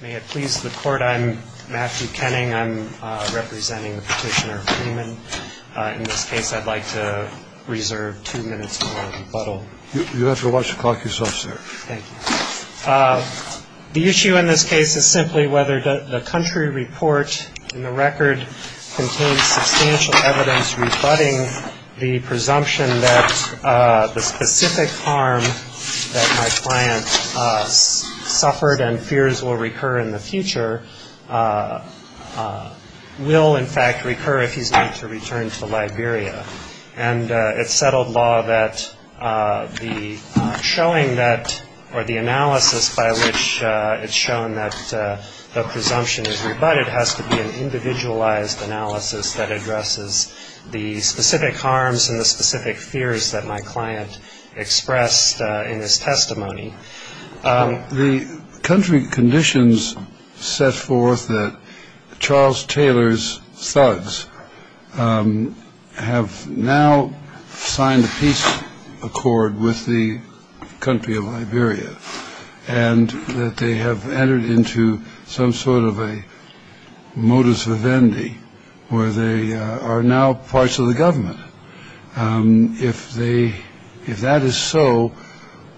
May it please the court. I'm Matthew Kenning. I'm representing the petitioner Freeman. In this case, I'd like to reserve two minutes for rebuttal. You have to watch the clock yourself, sir. Thank you. The issue in this case is simply whether the country report in the record contains substantial evidence rebutting the presumption that the specific harm that my client suffered and fears will recur in the future will in fact recur if he's going to return to Liberia. And it's settled law that the showing that or the analysis by which it's shown that the presumption is rebutted has to be an individualized analysis that addresses the specific harms and the specific fears that my client expressed in his testimony. The country conditions set forth that Charles Taylor's thugs have now signed a peace accord with the country of Liberia and that they have entered into some sort of a modus vivendi where they are now parts of the government. If they if that is so,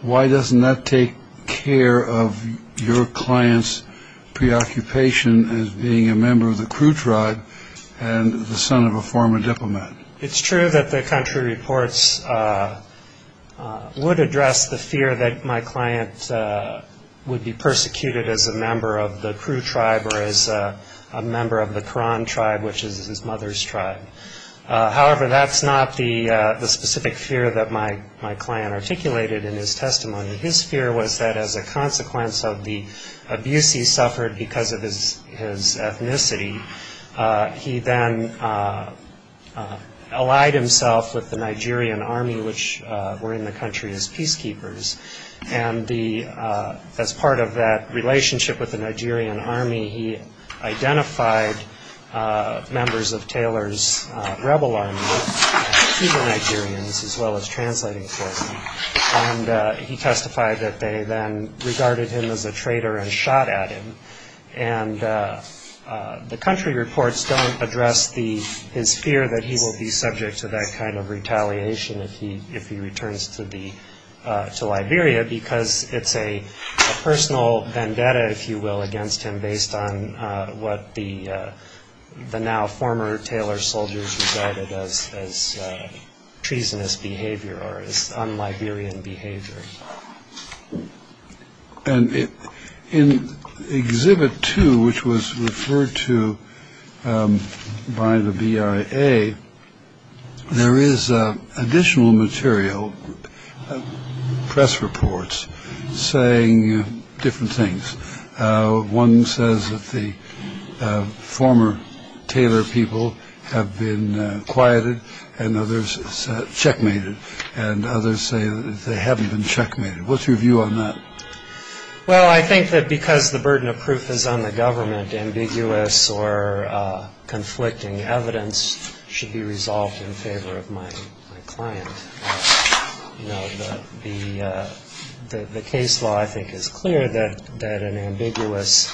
why doesn't that take care of your client's preoccupation as being a member of the crude tribe and the son of a former diplomat? It's true that the country reports would address the fear that my client would be persecuted as a member of the crude tribe or as a member of the Koran tribe, which is his mother's tribe. However, that's not the specific fear that my client articulated in his testimony. His fear was that as a consequence of the abuse he suffered because of his ethnicity, he then allied himself with the Nigerian army, which were in the country as peacekeepers. And as part of that relationship with the Nigerian army, he identified members of Taylor's rebel army, as well as translating for him. And he testified that they then regarded him as a traitor and shot at him. And the country reports don't address his fear that he will be subject to that kind of retaliation if he returns to Liberia because it's a personal vendetta, if you will, against him, based on what the now former Taylor soldiers regarded as treasonous behavior or un-Liberian behavior. And in exhibit two, which was referred to by the BIA, there is additional material, press reports saying different things. One says that the former Taylor people have been quieted and others checkmated. And others say that they haven't been checkmated. What's your view on that? Well, I think that because the burden of proof is on the government, ambiguous or conflicting evidence should be resolved in favor of my client. You know, the case law, I think, is clear that an ambiguous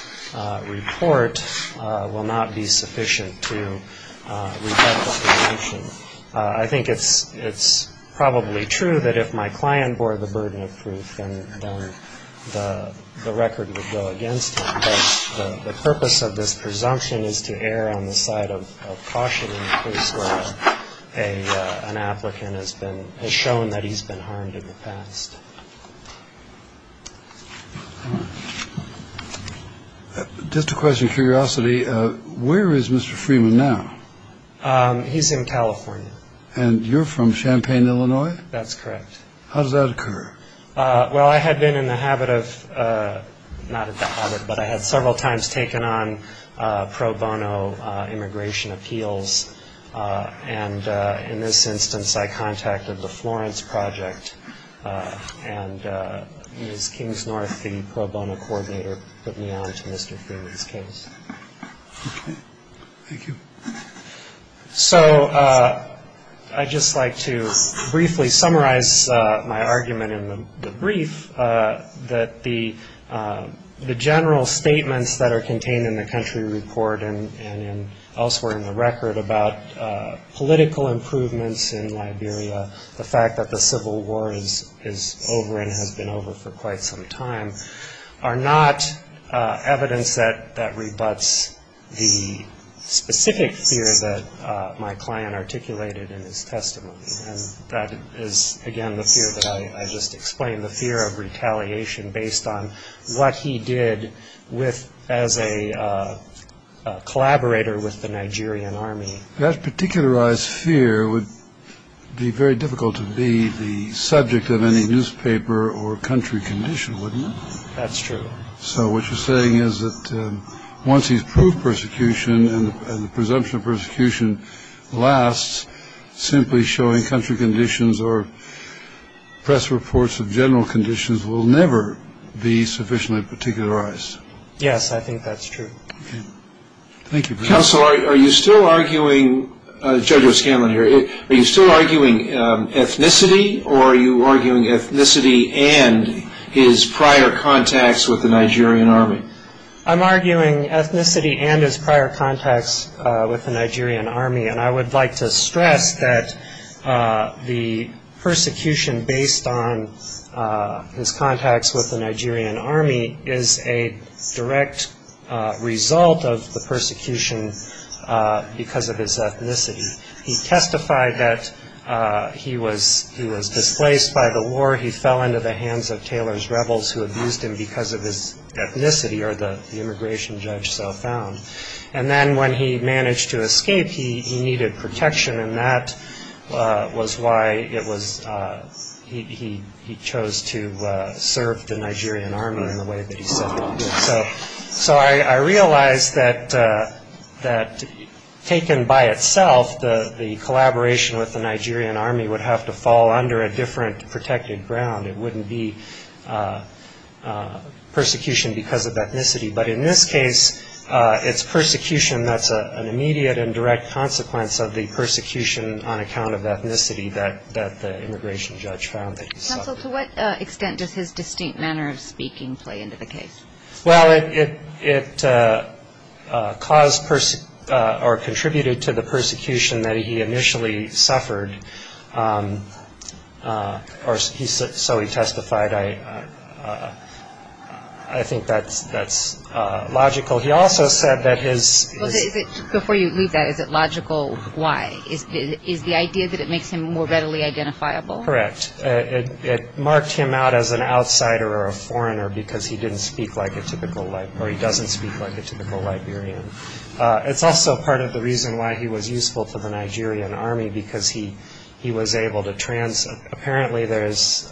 report will not be sufficient to rebuke retaliation. I think it's probably true that if my client bore the burden of proof, then the record would go against him. But the purpose of this presumption is to err on the side of caution in a case where an applicant has shown that he's been harmed in the past. Just a question of curiosity, where is Mr. Freeman now? He's in California. And you're from Champaign, Illinois? That's correct. How does that occur? Well, I had been in the habit of, not in the habit, but I had several times taken on pro bono immigration appeals. And in this instance, I contacted the Florence Project. And Ms. Kingsnorth, the pro bono coordinator, put me on to Mr. Freeman's case. Okay. Thank you. So I'd just like to briefly summarize my argument in the brief that the general statements that are contained in the country report and elsewhere in the record about political improvements in Liberia, the fact that the civil war is over and has been over for quite some time, are not evidence that rebuts the specific fear that my client articulated in his testimony. And that is, again, the fear that I just explained, the fear of retaliation based on what he did as a collaborator with the Nigerian army. That particularized fear would be very difficult to be the subject of any newspaper or country condition, wouldn't it? That's true. So what you're saying is that once he's proved persecution and the presumption of persecution lasts, simply showing country conditions or press reports of general conditions will never be sufficiently particularized. Yes, I think that's true. Thank you. Counsel, are you still arguing, Judge O'Scanlan here, are you still arguing ethnicity or are you arguing ethnicity and his prior contacts with the Nigerian army? I'm arguing ethnicity and his prior contacts with the Nigerian army. And I would like to stress that the persecution based on his contacts with the Nigerian army is a direct result of the persecution because of his ethnicity. He testified that he was displaced by the war. He fell into the hands of Taylor's rebels who abused him because of his ethnicity, or the immigration judge so found. And then when he managed to escape, he needed protection, and that was why he chose to serve the Nigerian army in the way that he said he did. So I realize that taken by itself, the collaboration with the Nigerian army would have to fall under a different protected ground. It wouldn't be persecution because of ethnicity. But in this case, it's persecution that's an immediate and direct consequence of the persecution on account of ethnicity that the immigration judge found that he suffered. Counsel, to what extent does his distinct manner of speaking play into the case? Well, it caused or contributed to the persecution that he initially suffered, or so he testified. I think that's logical. He also said that his ‑‑ Before you leave that, is it logical why? Is the idea that it makes him more readily identifiable? Correct. It marked him out as an outsider or a foreigner because he didn't speak like a typical ‑‑ or he doesn't speak like a typical Liberian. It's also part of the reason why he was useful to the Nigerian army because he was able to trans‑‑ apparently there's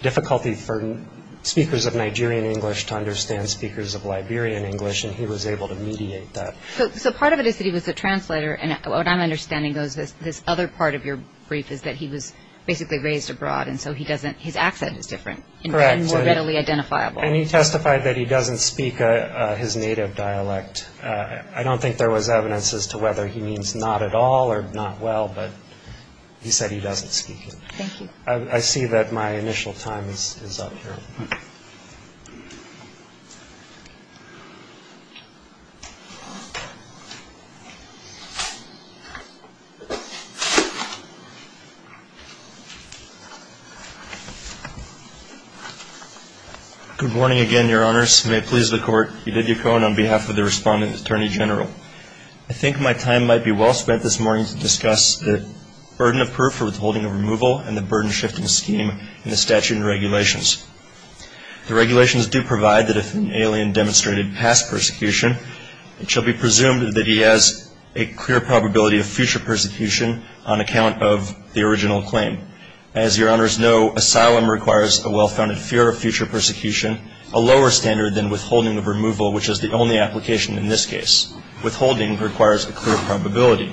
difficulty for speakers of Nigerian English to understand speakers of Liberian English, and he was able to mediate that. So part of it is that he was a translator, and what I'm understanding is this other part of your brief is that he was basically raised abroad, and so his accent is different and more readily identifiable. Correct. And he testified that he doesn't speak his native dialect. I don't think there was evidence as to whether he means not at all or not well, but he said he doesn't speak it. Thank you. I see that my initial time is up here. Okay. Thank you. Good morning again, Your Honors. May it please the Court. Edith Yacon on behalf of the Respondent and Attorney General. I think my time might be well spent this morning to discuss the burden of proof for withholding of removal and the burden shifting scheme in the statute and regulations. The regulations do provide that if an alien demonstrated past persecution, it shall be presumed that he has a clear probability of future persecution on account of the original claim. As Your Honors know, asylum requires a well-founded fear of future persecution, a lower standard than withholding of removal, which is the only application in this case. Withholding requires a clear probability.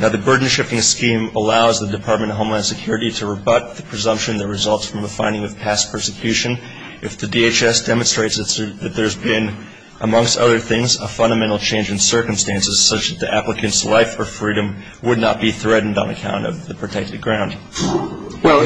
Now, the burden shifting scheme allows the Department of Homeland Security to rebut the presumption that results from a finding of past persecution. If the DHS demonstrates that there's been, amongst other things, a fundamental change in circumstances, such that the applicant's life or freedom would not be threatened on account of the protected ground. Well,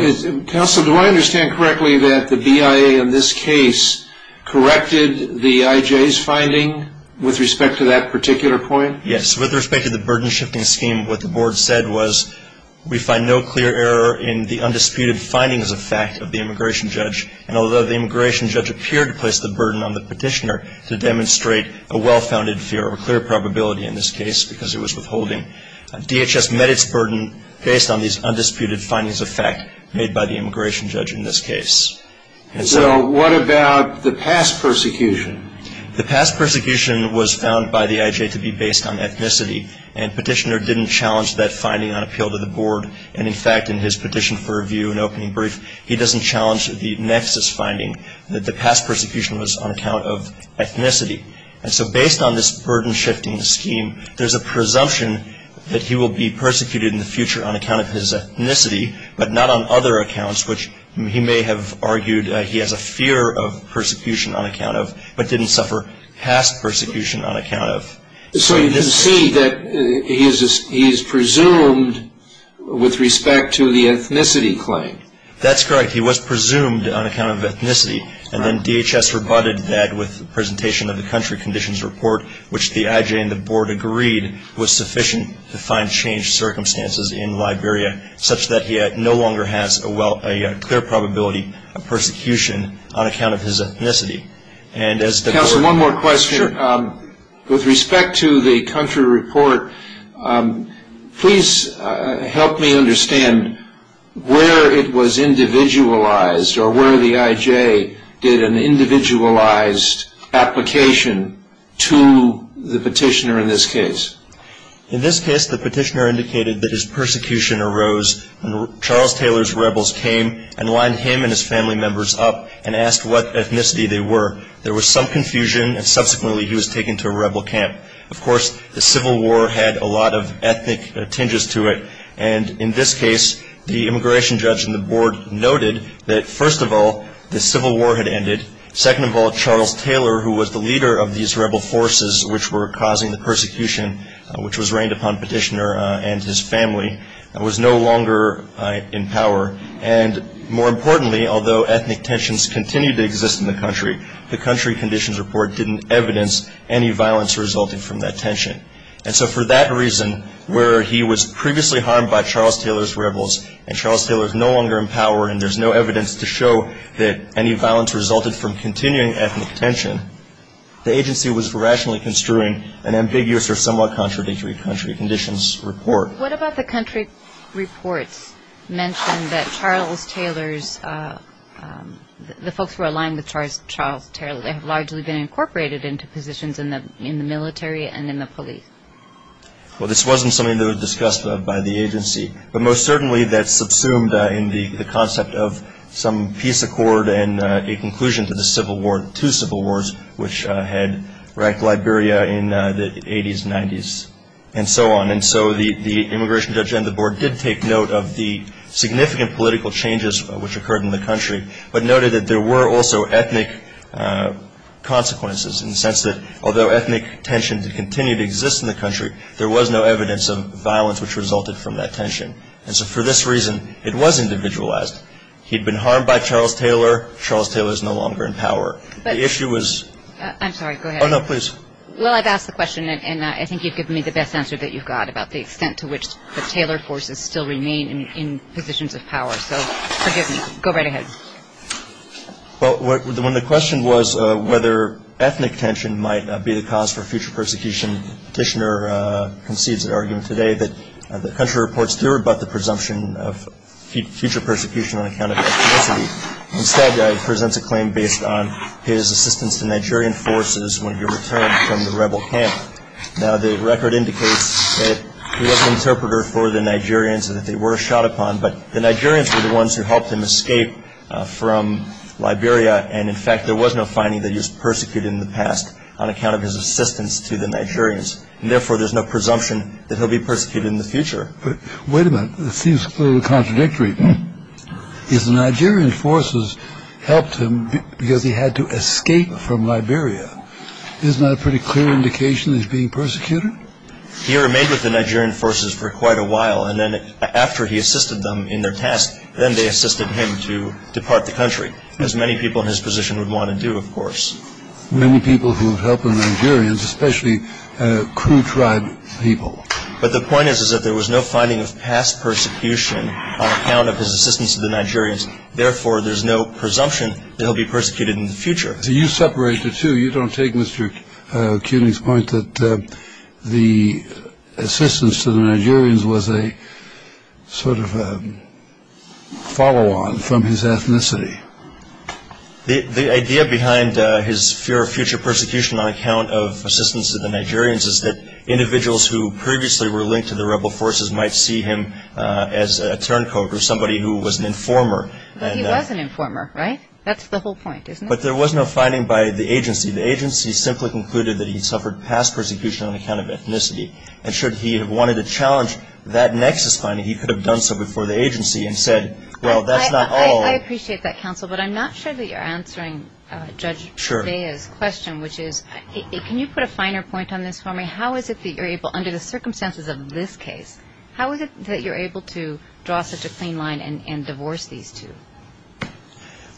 Counsel, do I understand correctly that the BIA in this case corrected the IJ's finding with respect to that particular point? Yes. With respect to the burden shifting scheme, what the board said was we find no clear error in the undisputed findings of fact of the immigration judge, and although the immigration judge appeared to place the burden on the petitioner to demonstrate a well-founded fear of a clear probability in this case because it was withholding, DHS met its burden based on these undisputed findings of fact made by the immigration judge in this case. So what about the past persecution? The past persecution was found by the IJ to be based on ethnicity and petitioner didn't challenge that finding on appeal to the board. And, in fact, in his petition for review and opening brief, he doesn't challenge the nexus finding that the past persecution was on account of ethnicity. And so based on this burden shifting scheme, there's a presumption that he will be persecuted in the future on account of his ethnicity, but not on other accounts, which he may have argued he has a fear of persecution on account of, but didn't suffer past persecution on account of. So you can see that he is presumed with respect to the ethnicity claim. That's correct. He was presumed on account of ethnicity, and then DHS rebutted that with the presentation of the country conditions report, which the IJ and the board agreed was sufficient to find changed circumstances in Liberia, such that he no longer has a clear probability of persecution on account of his ethnicity. Counsel, one more question. Sure. With respect to the country report, please help me understand where it was individualized or where the IJ did an individualized application to the petitioner in this case. In this case, the petitioner indicated that his persecution arose when Charles Taylor's rebels came and lined him and his family members up and asked what ethnicity they were. There was some confusion, and subsequently he was taken to a rebel camp. Of course, the Civil War had a lot of ethnic tinges to it, and in this case, the immigration judge and the board noted that, first of all, the Civil War had ended. Second of all, Charles Taylor, who was the leader of these rebel forces which were causing the persecution, which was reigned upon petitioner and his family, was no longer in power. And more importantly, although ethnic tensions continued to exist in the country, the country conditions report didn't evidence any violence resulting from that tension. And so for that reason, where he was previously harmed by Charles Taylor's rebels and Charles Taylor is no longer in power and there's no evidence to show that any violence resulted from continuing ethnic tension, the agency was rationally construing an ambiguous or somewhat contradictory country conditions report. What about the country reports mentioned that Charles Taylor's, the folks who were aligned with Charles Taylor, they have largely been incorporated into positions in the military and in the police? Well, this wasn't something that was discussed by the agency, but most certainly that subsumed in the concept of some peace accord and a conclusion to the Civil War, two Civil Wars, which had wrecked Liberia in the 80s, 90s, and so on. And so the immigration judge and the board did take note of the significant political changes which occurred in the country, but noted that there were also ethnic consequences in the sense that although ethnic tensions continued to exist in the country, there was no evidence of violence which resulted from that tension. And so for this reason, it was individualized. He'd been harmed by Charles Taylor. Charles Taylor is no longer in power. The issue was — I'm sorry, go ahead. Oh, no, please. Well, I've asked the question, and I think you've given me the best answer that you've got about the extent to which the Taylor forces still remain in positions of power, so forgive me. Go right ahead. Well, when the question was whether ethnic tension might be the cause for future persecution, the petitioner concedes the argument today that the country reports thereabout the presumption of future persecution on account of ethnicity. Instead, he presents a claim based on his assistance to Nigerian forces when he returned from the rebel camp. Now, the record indicates that he was an interpreter for the Nigerians and that they were shot upon, but the Nigerians were the ones who helped him escape from Liberia, and in fact there was no finding that he was persecuted in the past on account of his assistance to the Nigerians, and therefore there's no presumption that he'll be persecuted in the future. Wait a minute. It seems a little contradictory. His Nigerian forces helped him because he had to escape from Liberia. Isn't that a pretty clear indication he's being persecuted? He remained with the Nigerian forces for quite a while, and then after he assisted them in their task, then they assisted him to depart the country, as many people in his position would want to do, of course. Many people who have helped the Nigerians, especially crew tribe people. But the point is that there was no finding of past persecution on account of his assistance to the Nigerians. Therefore, there's no presumption that he'll be persecuted in the future. So you separate the two. You don't take Mr. Keating's point that the assistance to the Nigerians was a sort of a follow-on from his ethnicity. The idea behind his fear of future persecution on account of assistance to the Nigerians is that individuals who previously were linked to the rebel forces might see him as a turncoat or somebody who was an informer. But he was an informer, right? That's the whole point, isn't it? But there was no finding by the agency. The agency simply concluded that he suffered past persecution on account of ethnicity. And should he have wanted to challenge that nexus finding, he could have done so before the agency and said, well, that's not all. I appreciate that, counsel, but I'm not sure that you're answering Judge Zea's question, which is can you put a finer point on this for me? How is it that you're able, under the circumstances of this case, how is it that you're able to draw such a clean line and divorce these two?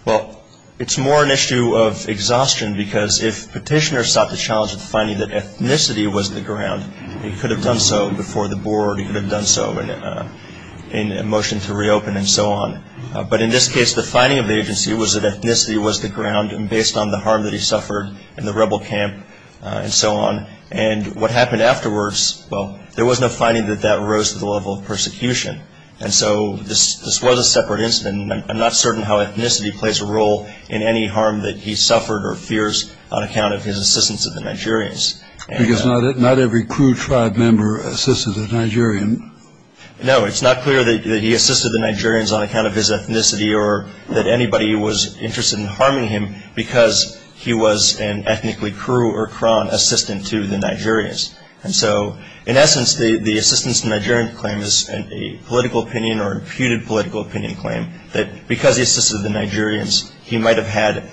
Well, it's more an issue of exhaustion because if Petitioner sought the challenge of finding that ethnicity was the ground, he could have done so before the board. He could have done so in a motion to reopen and so on. But in this case, the finding of the agency was that ethnicity was the ground and based on the harm that he suffered in the rebel camp and so on. And what happened afterwards, well, there was no finding that that rose to the level of persecution. And so this was a separate incident. I'm not certain how ethnicity plays a role in any harm that he suffered or fears on account of his assistance of the Nigerians. Because not every crew tribe member assisted a Nigerian. No, it's not clear that he assisted the Nigerians on account of his ethnicity or that anybody was interested in harming him because he was an ethnically Kuru or Kron assistant to the Nigerians. And so in essence, the assistance to Nigerian claim is a political opinion or imputed political opinion claim that because he assisted the Nigerians, he might have had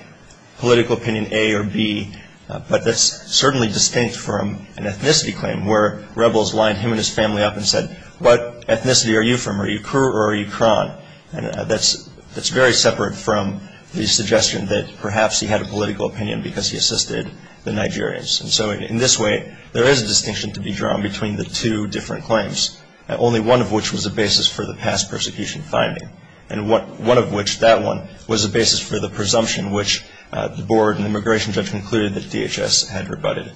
political opinion A or B. But that's certainly distinct from an ethnicity claim where rebels lined him and his family up and said, what ethnicity are you from? Are you Kuru or are you Kron? That's very separate from the suggestion that perhaps he had a political opinion because he assisted the Nigerians. And so in this way, there is a distinction to be drawn between the two different claims, only one of which was a basis for the past persecution finding. And one of which, that one, was a basis for the presumption which the board and the immigration judge concluded that DHS had rebutted.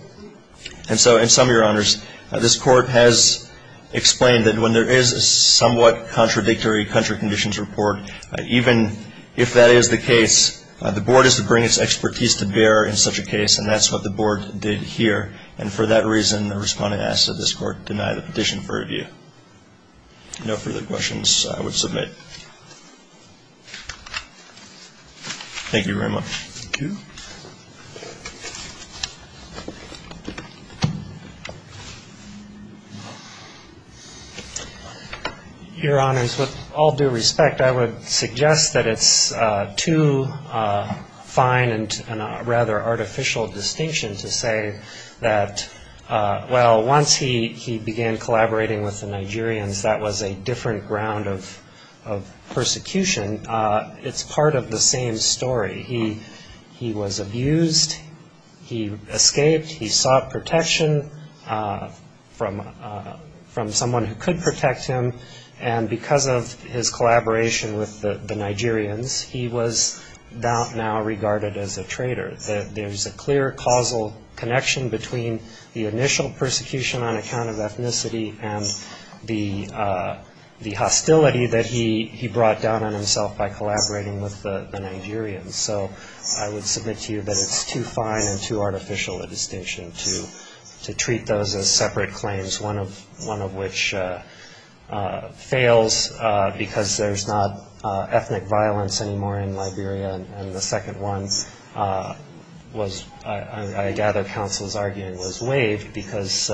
And so in sum, Your Honors, this court has explained that when there is a somewhat contradictory country conditions report, even if that is the case, the board is to bring its expertise to bear in such a case, and that's what the board did here. And for that reason, the respondent asked that this court deny the petition for review. No further questions, I would submit. Thank you very much. Thank you. Your Honors, with all due respect, I would suggest that it's too fine and rather artificial distinction to say that, well, once he began collaborating with the Nigerians, that was a different ground of persecution. It's part of the same story. He was abused. He escaped. He sought protection from someone who could protect him. And because of his collaboration with the Nigerians, he was now regarded as a traitor. There's a clear causal connection between the initial persecution on account of ethnicity and the hostility that he brought down on himself by collaborating with the Nigerians. So I would submit to you that it's too fine and too artificial a distinction to treat those as separate claims, one of which fails because there's not ethnic violence anymore in Liberia, and the second one was, I gather counsel's argument, was waived because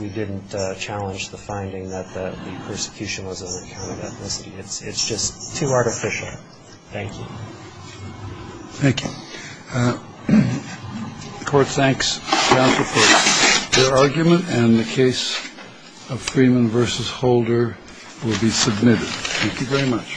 we didn't challenge the finding that the persecution was on account of ethnicity. It's just too artificial. Thank you. Thank you. The Court thanks counsel for their argument, and the case of Freeman v. Holder will be submitted. Thank you very much.